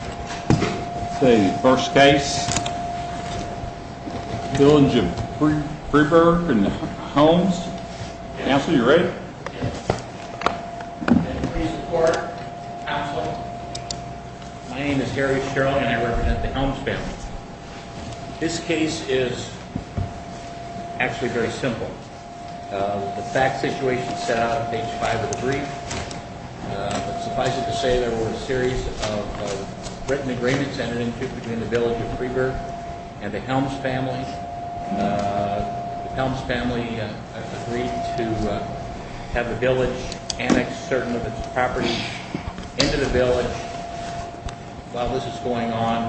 The first case, Village of Freeburg v. Helms Counsel, you ready? Yes. Please report, counsel. My name is Harry Sterling and I represent the Helms family. This case is actually very simple. The fact situation set out on page 5 of the brief. Suffice it to say there were a series of written agreements entered into between the Village of Freeburg and the Helms family. The Helms family agreed to have the village annex certain of its properties into the village. While this was going on,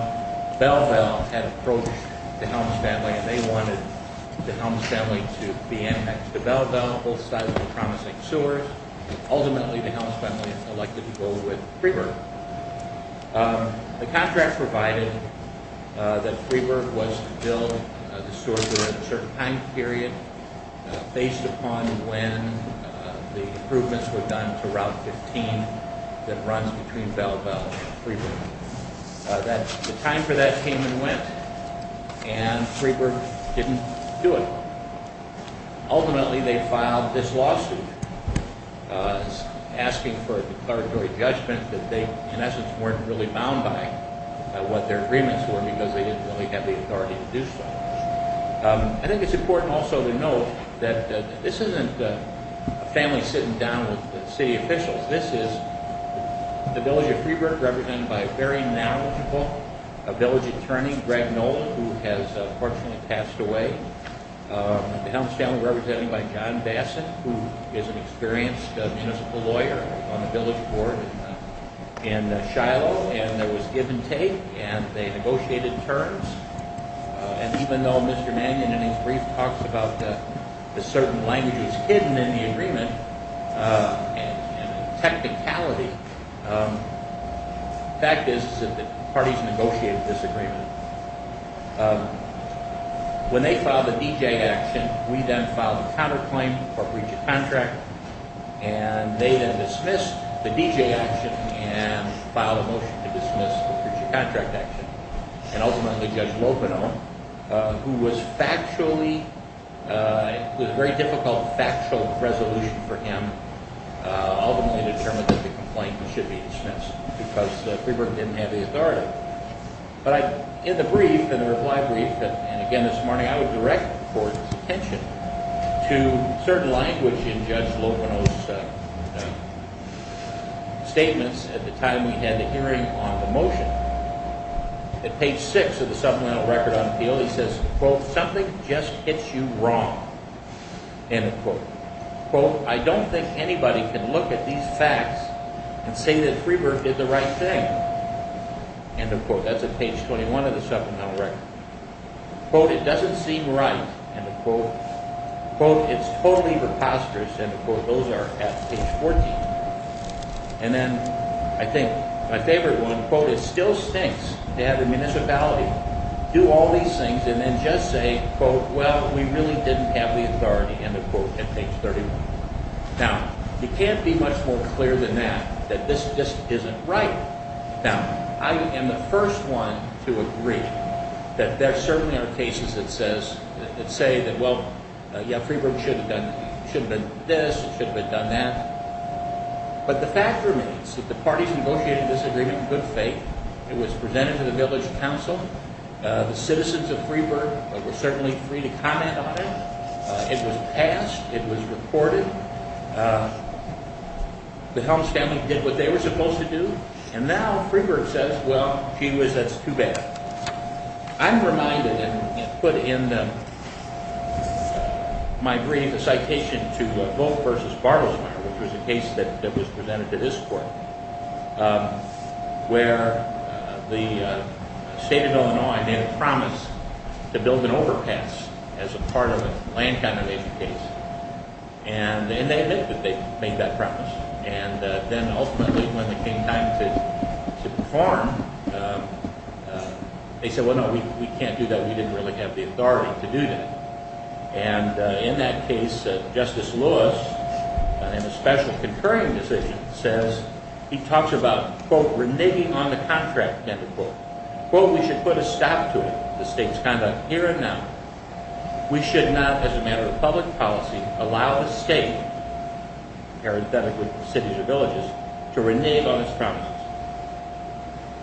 Belleville had approached the Helms family and they wanted the Helms family to be annexed to Belleville. Ultimately, the Helms family elected to go with Freeburg. The contract provided that Freeburg was to build the sewers during a certain time period based upon when the improvements were done to Route 15 that runs between Belleville and Freeburg. The time for that came and went and Freeburg didn't do it. Ultimately, they filed this lawsuit asking for a declaratory judgment that they in essence weren't really bound by what their agreements were because they didn't really have the authority to do so. I think it's important also to note that this isn't a family sitting down with city officials. This is the Village of Freeburg represented by a very knowledgeable village attorney, Greg Nolan, who has fortunately passed away. The Helms family represented by John Bassett, who is an experienced municipal lawyer on the village board in Shiloh. There was give and take and they negotiated terms. Even though Mr. Mannion in his brief talks about the certain languages hidden in the agreement and technicality, the fact is that the parties negotiated this agreement. When they filed the DJ action, we then filed a counterclaim for breach of contract and they then dismissed the DJ action and filed a motion to dismiss the breach of contract action. Ultimately, Judge Locono, who was factually, it was a very difficult factual resolution for him, ultimately determined that the complaint should be dismissed because Freeburg didn't have the authority. In the reply brief, and again this morning, I would direct the court's attention to certain language in Judge Locono's statements at the time we had the hearing on the motion. At page 6 of the supplemental record on appeal, he says, quote, something just hits you wrong, end quote. Quote, I don't think anybody can look at these facts and say that Freeburg did the right thing. End of quote. That's at page 21 of the supplemental record. Quote, it doesn't seem right, end of quote. Quote, it's totally preposterous, end of quote. Those are at page 14. And then I think my favorite one, quote, it still stinks to have the municipality do all these things and then just say, quote, well, we really didn't have the authority, end of quote, at page 31. Now, you can't be much more clear than that, that this just isn't right. Now, I am the first one to agree that there certainly are cases that say that, well, yeah, Freeburg should have done this, should have done that. But the fact remains that the parties negotiated this agreement in good faith. It was presented to the village council. The citizens of Freeburg were certainly free to comment on it. It was passed. It was reported. The Helms family did what they were supposed to do. And now Freeburg says, well, gee whiz, that's too bad. I'm reminded and put in my brief a citation to Volk v. Bartelsmeyer, which was a case that was presented to this court, where the state of Illinois made a promise to build an overpass as a part of a land condemnation case. And they admit that they made that promise. And then ultimately, when it came time to perform, they said, well, no, we can't do that. We didn't really have the authority to do that. And in that case, Justice Lewis, in a special concurring decision, says he talks about, quote, reneging on the contract, end of quote. Quote, we should put a stop to it, the state's conduct, here and now. We should not, as a matter of public policy, allow the state, parenthetically cities or villages, to renege on its promises.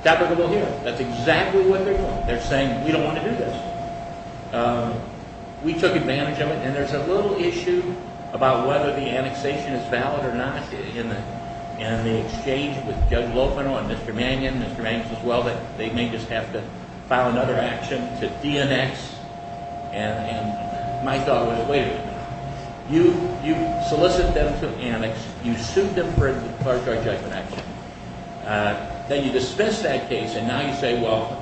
That's what we'll hear. That's exactly what they're doing. They're saying, we don't want to do this. We took advantage of it. And there's a little issue about whether the annexation is valid or not. In the exchange with Judge Lopano and Mr. Mannion, Mr. Mannion says, well, they may just have to file another action to de-annex. And my thought was, wait a minute. You solicit them to annex. You sue them for a charge of judgment action. Then you dismiss that case. And now you say, well,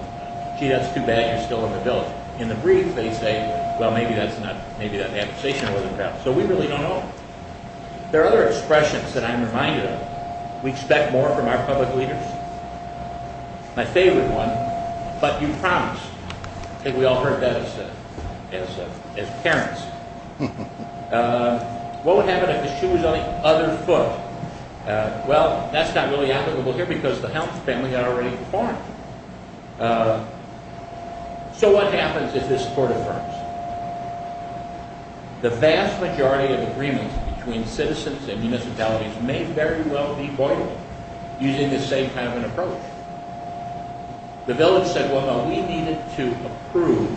gee, that's too bad. You're still in the village. In the brief, they say, well, maybe that annexation wasn't valid. So we really don't know. There are other expressions that I'm reminded of. We expect more from our public leaders. My favorite one, but you promised. I think we all heard that as parents. What would happen if the shoe was on the other foot? Well, that's not really applicable here because the health family got already informed. So what happens if this court affirms? The vast majority of agreements between citizens and municipalities may very well be void using this same kind of an approach. The village said, well, no, we needed to approve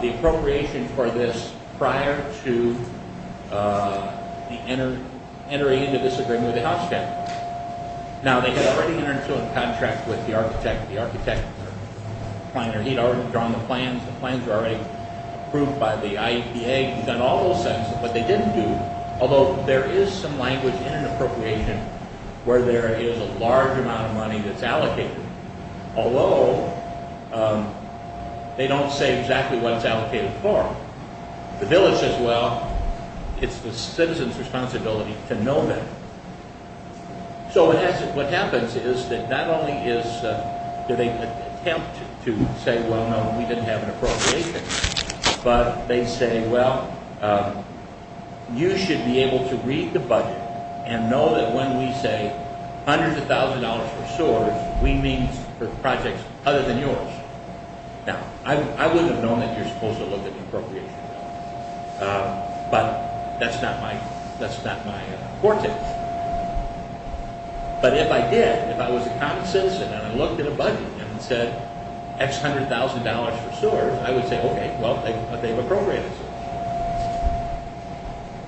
the appropriation for this prior to entering into this agreement with the health family. Now, they had already entered into a contract with the architect. The architect, he'd already drawn the plans. The plans were already approved by the IEPA. He's done all those things. What they didn't do, although there is some language in an appropriation where there is a large amount of money that's allocated, although they don't say exactly what it's allocated for, the village says, well, it's the citizen's responsibility to know that. So what happens is that not only do they attempt to say, well, no, we didn't have an appropriation, but they say, well, you should be able to read the budget and know that when we say hundreds of thousands of dollars for sewers, we mean for projects other than yours. Now, I wouldn't have known that you're supposed to look at the appropriation. But that's not my cortex. But if I did, if I was a common citizen and I looked at a budget and said X hundred thousand dollars for sewers, I would say, okay, well, they've appropriated it.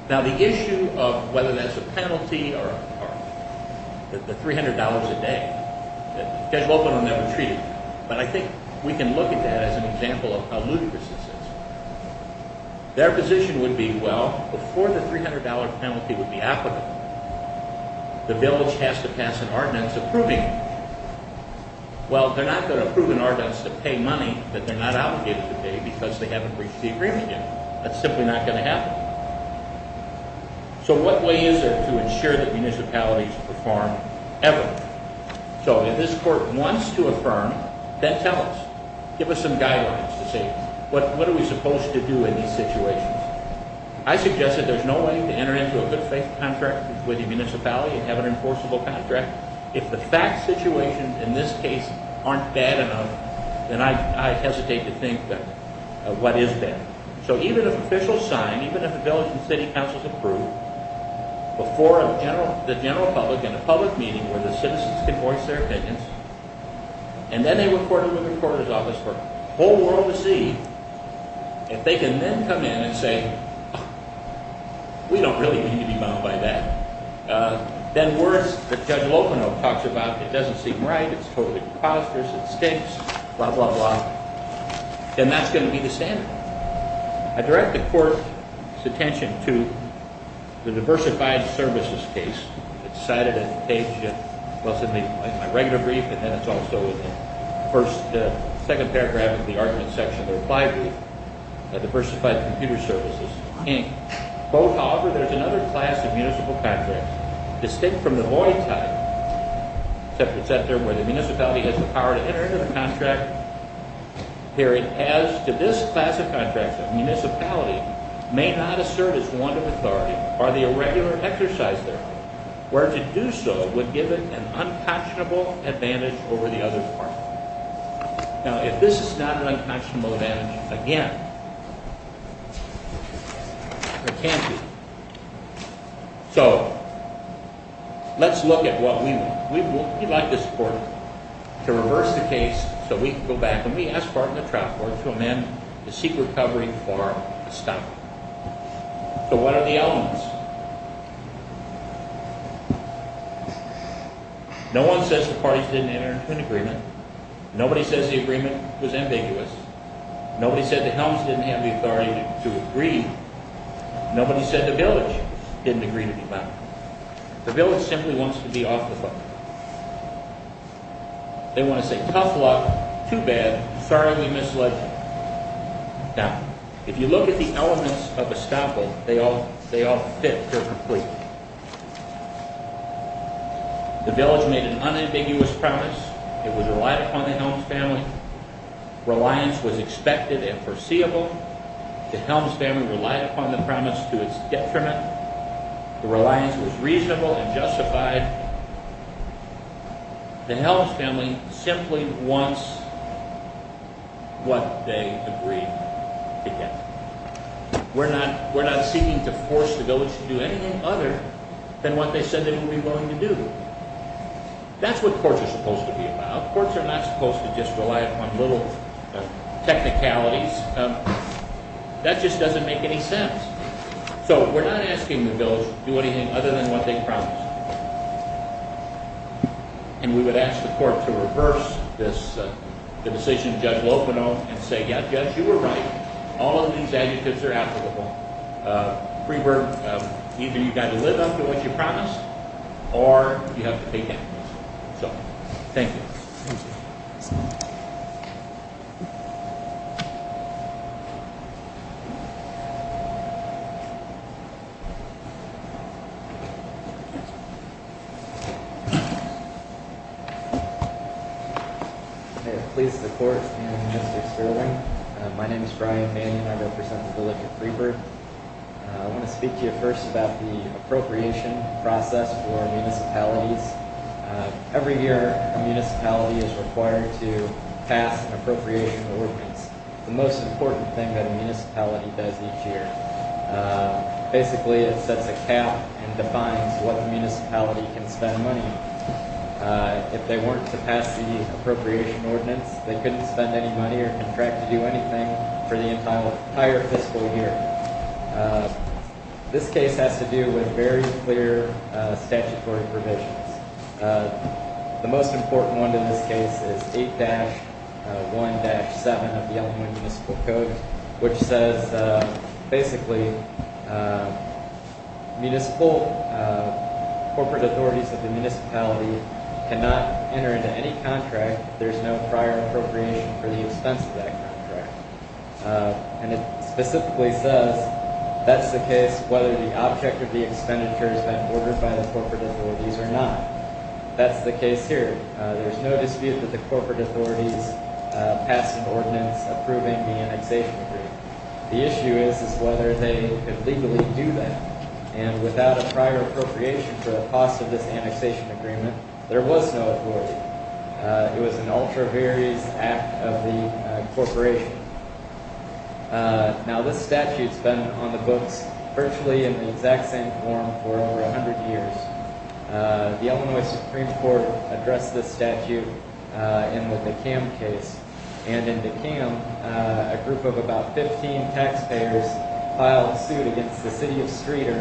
Now, the issue of whether that's a penalty or the $300 a day, the Federal Open will never treat it. But I think we can look at that as an example of how ludicrous this is. Their position would be, well, before the $300 penalty would be applicable, the village has to pass an ordinance approving it. Well, they're not going to approve an ordinance to pay money that they're not obligated to pay because they haven't reached the agreement yet. That's simply not going to happen. So what way is there to ensure that municipalities perform evidence? So if this court wants to affirm, then tell us. Give us some guidelines to say what are we supposed to do in these situations? I suggest that there's no way to enter into a good faith contract with a municipality and have an enforceable contract. If the facts situation in this case aren't bad enough, then I hesitate to think what is bad. So even if officials sign, even if a village and city council approve, before the general public in a public meeting where the citizens can voice their opinions, and then they report to the reporter's office for the whole world to see, if they can then come in and say, we don't really need to be bound by that, then words that Judge Lopenoe talks about, it doesn't seem right, it's totally preposterous, it stinks, blah, blah, blah, then that's going to be the standard. I direct the court's attention to the diversified services case. It's cited in page, well, it's in my regular brief, and then it's also in the second paragraph of the argument section of the reply brief, diversified computer services, Inc. Both, however, there's another class of municipal contracts distinct from the void type, where the municipality has the power to enter into the contract. Here it has, to this class of contracts, the municipality may not assert its want of authority or the irregular exercise thereof, where to do so would give it an unconscionable advantage over the other party. Now, if this is not an unconscionable advantage, again, it can't be. So, let's look at what we want. We'd like this court to reverse the case so we can go back, when we ask for it in the trial court, to amend the secret covering for estoppel. So what are the elements? No one says the parties didn't enter into an agreement. Nobody says the agreement was ambiguous. Nobody said the Helms didn't have the authority to agree. Nobody said the Village didn't agree to be met. The Village simply wants to be off the hook. They want to say, tough luck, too bad, sorry we misled you. Now, if you look at the elements of estoppel, they all fit here completely. The Village made an unambiguous premise. It was relied upon the Helms family. Reliance was expected and foreseeable. The Helms family relied upon the premise to its detriment. The reliance was reasonable and justified. The Helms family simply wants what they agreed to get. We're not seeking to force the Village to do anything other than what they said they would be willing to do. That's what courts are supposed to be about. Courts are not supposed to just rely upon little technicalities. That just doesn't make any sense. So we're not asking the Village to do anything other than what they promised. And we would ask the Court to reverse the decision of Judge Lopino and say, Yeah, Judge, you were right. All of these adjectives are applicable. Either you've got to live up to what you promised or you have to pay down. Thank you. Please, the Court and Mr. Sterling. My name is Brian Mannion. I represent the Village of Freeburg. I want to speak to you first about the appropriation process for municipalities. Every year, a municipality is required to pass an appropriation ordinance, the most important thing that a municipality does each year. Basically, it sets a cap and defines what the municipality can spend money on. If they weren't to pass the appropriation ordinance, they couldn't spend any money or contract to do anything for the entire fiscal year. This case has to do with very clear statutory provisions. The most important one in this case is 8-1-7 of the Illinois Municipal Code, which says, basically, municipal corporate authorities of the municipality cannot enter into any contract if there's no prior appropriation for the expense of that contract. And it specifically says that's the case whether the object of the expenditure has been ordered by the corporate authorities or not. That's the case here. There's no dispute that the corporate authorities passed an ordinance approving the annexation agreement. The issue is whether they could legally do that. And without a prior appropriation for the cost of this annexation agreement, there was no authority. It was an ultra-various act of the corporation. Now, this statute's been on the books virtually in the exact same form for over 100 years. The Illinois Supreme Court addressed this statute in the DeKalb case. And in DeKalb, a group of about 15 taxpayers filed a suit against the city of Streeter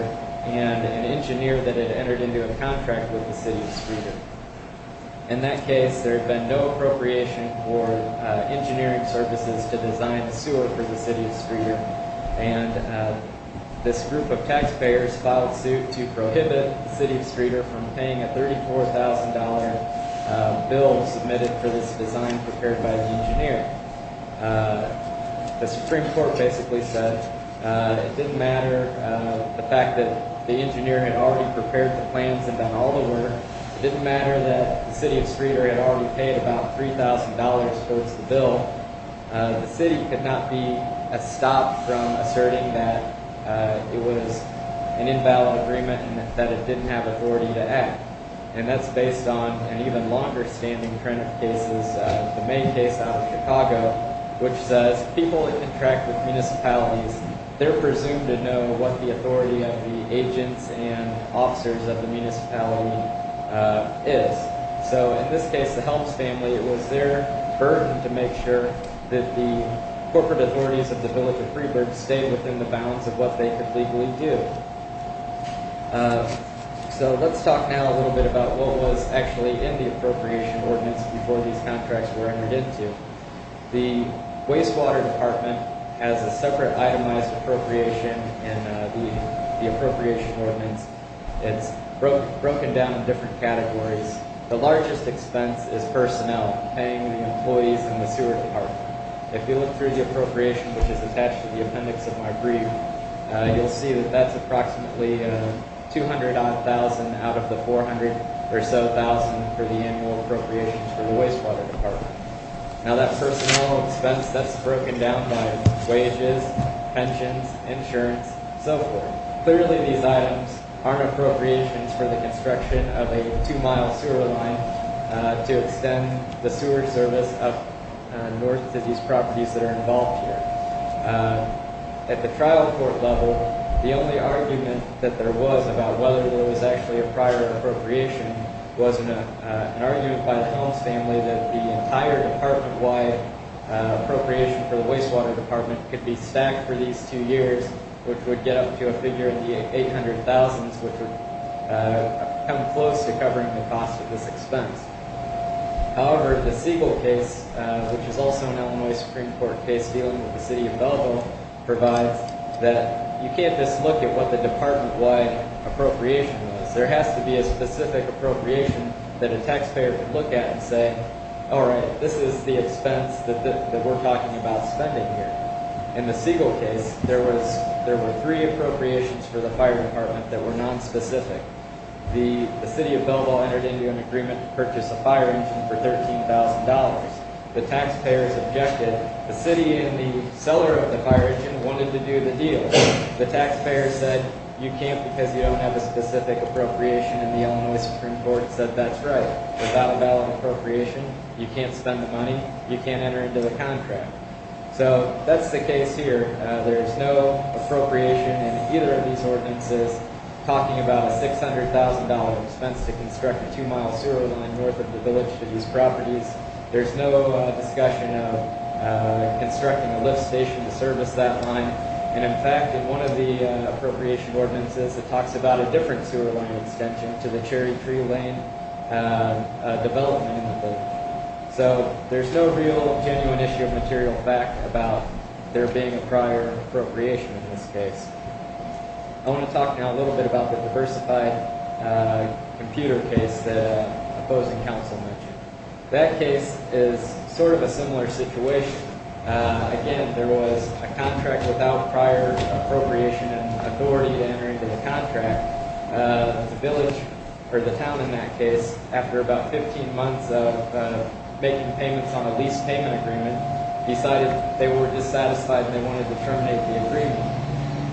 and an engineer that had entered into a contract with the city of Streeter. In that case, there had been no appropriation for engineering services to design the sewer for the city of Streeter. And this group of taxpayers filed a suit to prohibit the city of Streeter from paying a $34,000 bill submitted for this design prepared by the engineer. The Supreme Court basically said it didn't matter. The fact that the engineer had already prepared the plans and done all the work, it didn't matter that the city of Streeter had already paid about $3,000 towards the bill. The city could not be stopped from asserting that it was an invalid agreement and that it didn't have authority to act. And that's based on an even longer-standing print of cases, the May case out of Chicago, is they're presumed to know what the authority of the agents and officers of the municipality is. So in this case, the Helms family, it was their burden to make sure that the corporate authorities of the village of Freedberg stayed within the balance of what they could legally do. So let's talk now a little bit about what was actually in the appropriation ordinance before these contracts were entered into. The Wastewater Department has a separate itemized appropriation in the appropriation ordinance. It's broken down into different categories. The largest expense is personnel, paying the employees in the Sewer Department. If you look through the appropriation which is attached to the appendix of my brief, you'll see that that's approximately $200,000 out of the $400,000 or so for the annual appropriations for the Wastewater Department. Now that personnel expense, that's broken down by wages, pensions, insurance, so forth. Clearly, these items aren't appropriations for the construction of a two-mile sewer line to extend the sewer service up north to these properties that are involved here. At the trial court level, the only argument that there was about whether there was actually a prior appropriation was an argument by the Helms family that the entire Department-wide appropriation for the Wastewater Department could be stacked for these two years, which would get up to a figure of the $800,000, which would come close to covering the cost of this expense. However, the Siegel case, which is also an Illinois Supreme Court case dealing with the City of Belleville, provides that you can't just look at what the Department-wide appropriation is. There has to be a specific appropriation that a taxpayer would look at and say, all right, this is the expense that we're talking about spending here. In the Siegel case, there were three appropriations for the Fire Department that were nonspecific. The City of Belleville entered into an agreement to purchase a fire engine for $13,000. The taxpayers objected. The City and the seller of the fire engine wanted to do the deal. The taxpayer said you can't because you don't have a specific appropriation, and the Illinois Supreme Court said that's right. Without a valid appropriation, you can't spend the money, you can't enter into the contract. So that's the case here. There's no appropriation in either of these ordinances talking about a $600,000 expense to construct a two-mile sewer line north of the village to these properties. There's no discussion of constructing a lift station to service that line. In fact, in one of the appropriation ordinances, it talks about a different sewer line extension to the Cherry Tree Lane development in the village. So there's no real genuine issue of material fact about there being a prior appropriation in this case. I want to talk now a little bit about the diversified computer case that opposing counsel mentioned. That case is sort of a similar situation. Again, there was a contract without prior appropriation and authority to enter into the contract. The village, or the town in that case, after about 15 months of making payments on a lease payment agreement, decided they were dissatisfied and they wanted to terminate the agreement.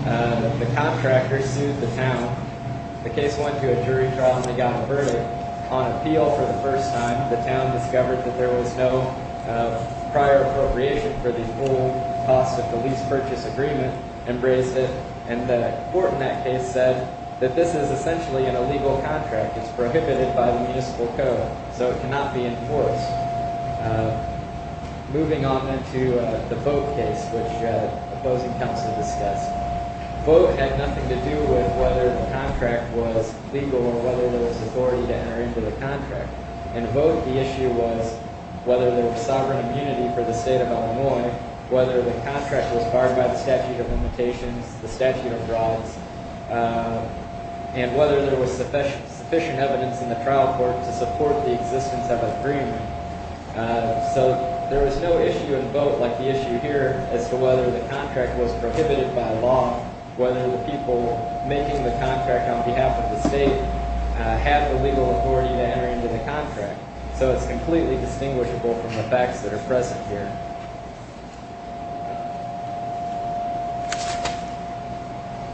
The contractor sued the town. The case went to a jury trial and they got a verdict. On appeal for the first time, the town discovered that there was no prior appropriation for the full cost of the lease purchase agreement, embraced it, and the court in that case said that this is essentially an illegal contract. It's prohibited by the municipal code, so it cannot be enforced. Moving on into the Vogt case, which opposing counsel discussed. Vogt had nothing to do with whether the contract was legal or whether there was authority to enter into the contract. In Vogt, the issue was whether there was sovereign immunity for the state of Illinois, whether the contract was barred by the statute of limitations, the statute of rights, and whether there was sufficient evidence in the trial court to support the existence of an agreement. So there was no issue in Vogt like the issue here as to whether the contract was prohibited by law, whether the people making the contract on behalf of the state had the legal authority to enter into the contract. So it's completely distinguishable from the facts that are present here.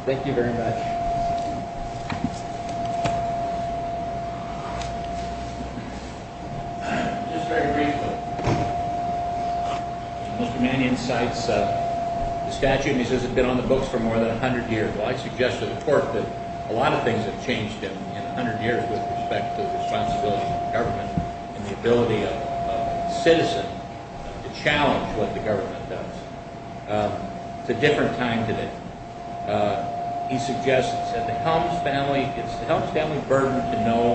Thank you very much. Just very briefly, Mr. Mannion cites the statute, and he says it's been on the books for more than 100 years. Well, I suggested to the court that a lot of things have changed in 100 years with respect to the responsibility of government and the ability of a citizen to challenge what the government does. It's a different time today. He suggests that it's the Helms family's burden to know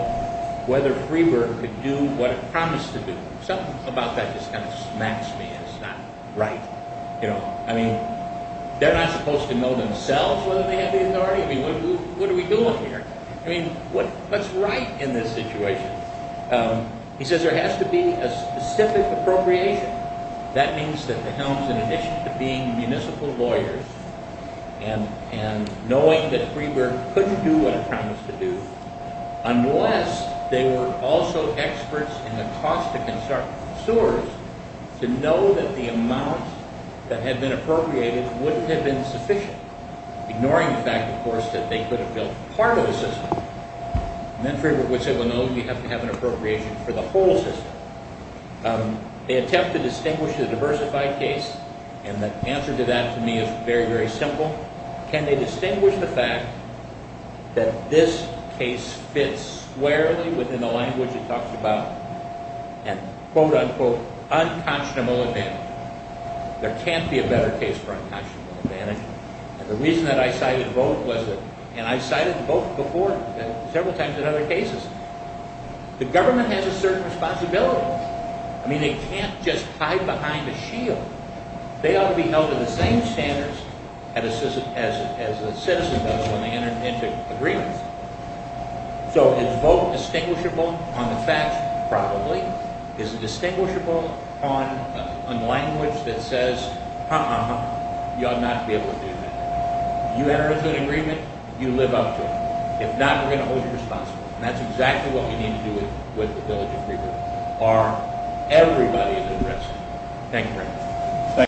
whether Freeberg could do what it promised to do. Something about that just kind of smacks me as not right. I mean, they're not supposed to know themselves whether they have the authority? I mean, what are we doing here? I mean, what's right in this situation? He says there has to be a specific appropriation. That means that the Helms, in addition to being municipal lawyers and knowing that Freeberg couldn't do what it promised to do, unless they were also experts in the cost of sewers, to know that the amount that had been appropriated wouldn't have been sufficient, ignoring the fact, of course, that they could have built part of the system. And then Freeberg would say, well, no, you have to have an appropriation for the whole system. They attempt to distinguish the diversified case. And the answer to that, to me, is very, very simple. Can they distinguish the fact that this case fits squarely within the language it talks about and quote, unquote, unconscionable advantage? There can't be a better case for unconscionable advantage. And the reason that I cited both was that, and I cited both before and several times in other cases, the government has a certain responsibility. I mean, they can't just hide behind a shield. They ought to be held to the same standards as a citizen does when they enter into agreements. So is vote distinguishable on the facts? Probably. Is it distinguishable on language that says, uh-uh-uh, you ought not be able to do that? You enter into an agreement, you live up to it. If not, we're going to hold you responsible. And that's exactly what we need to do with the village of Freeberg. Or everybody is at risk. Thank you very much.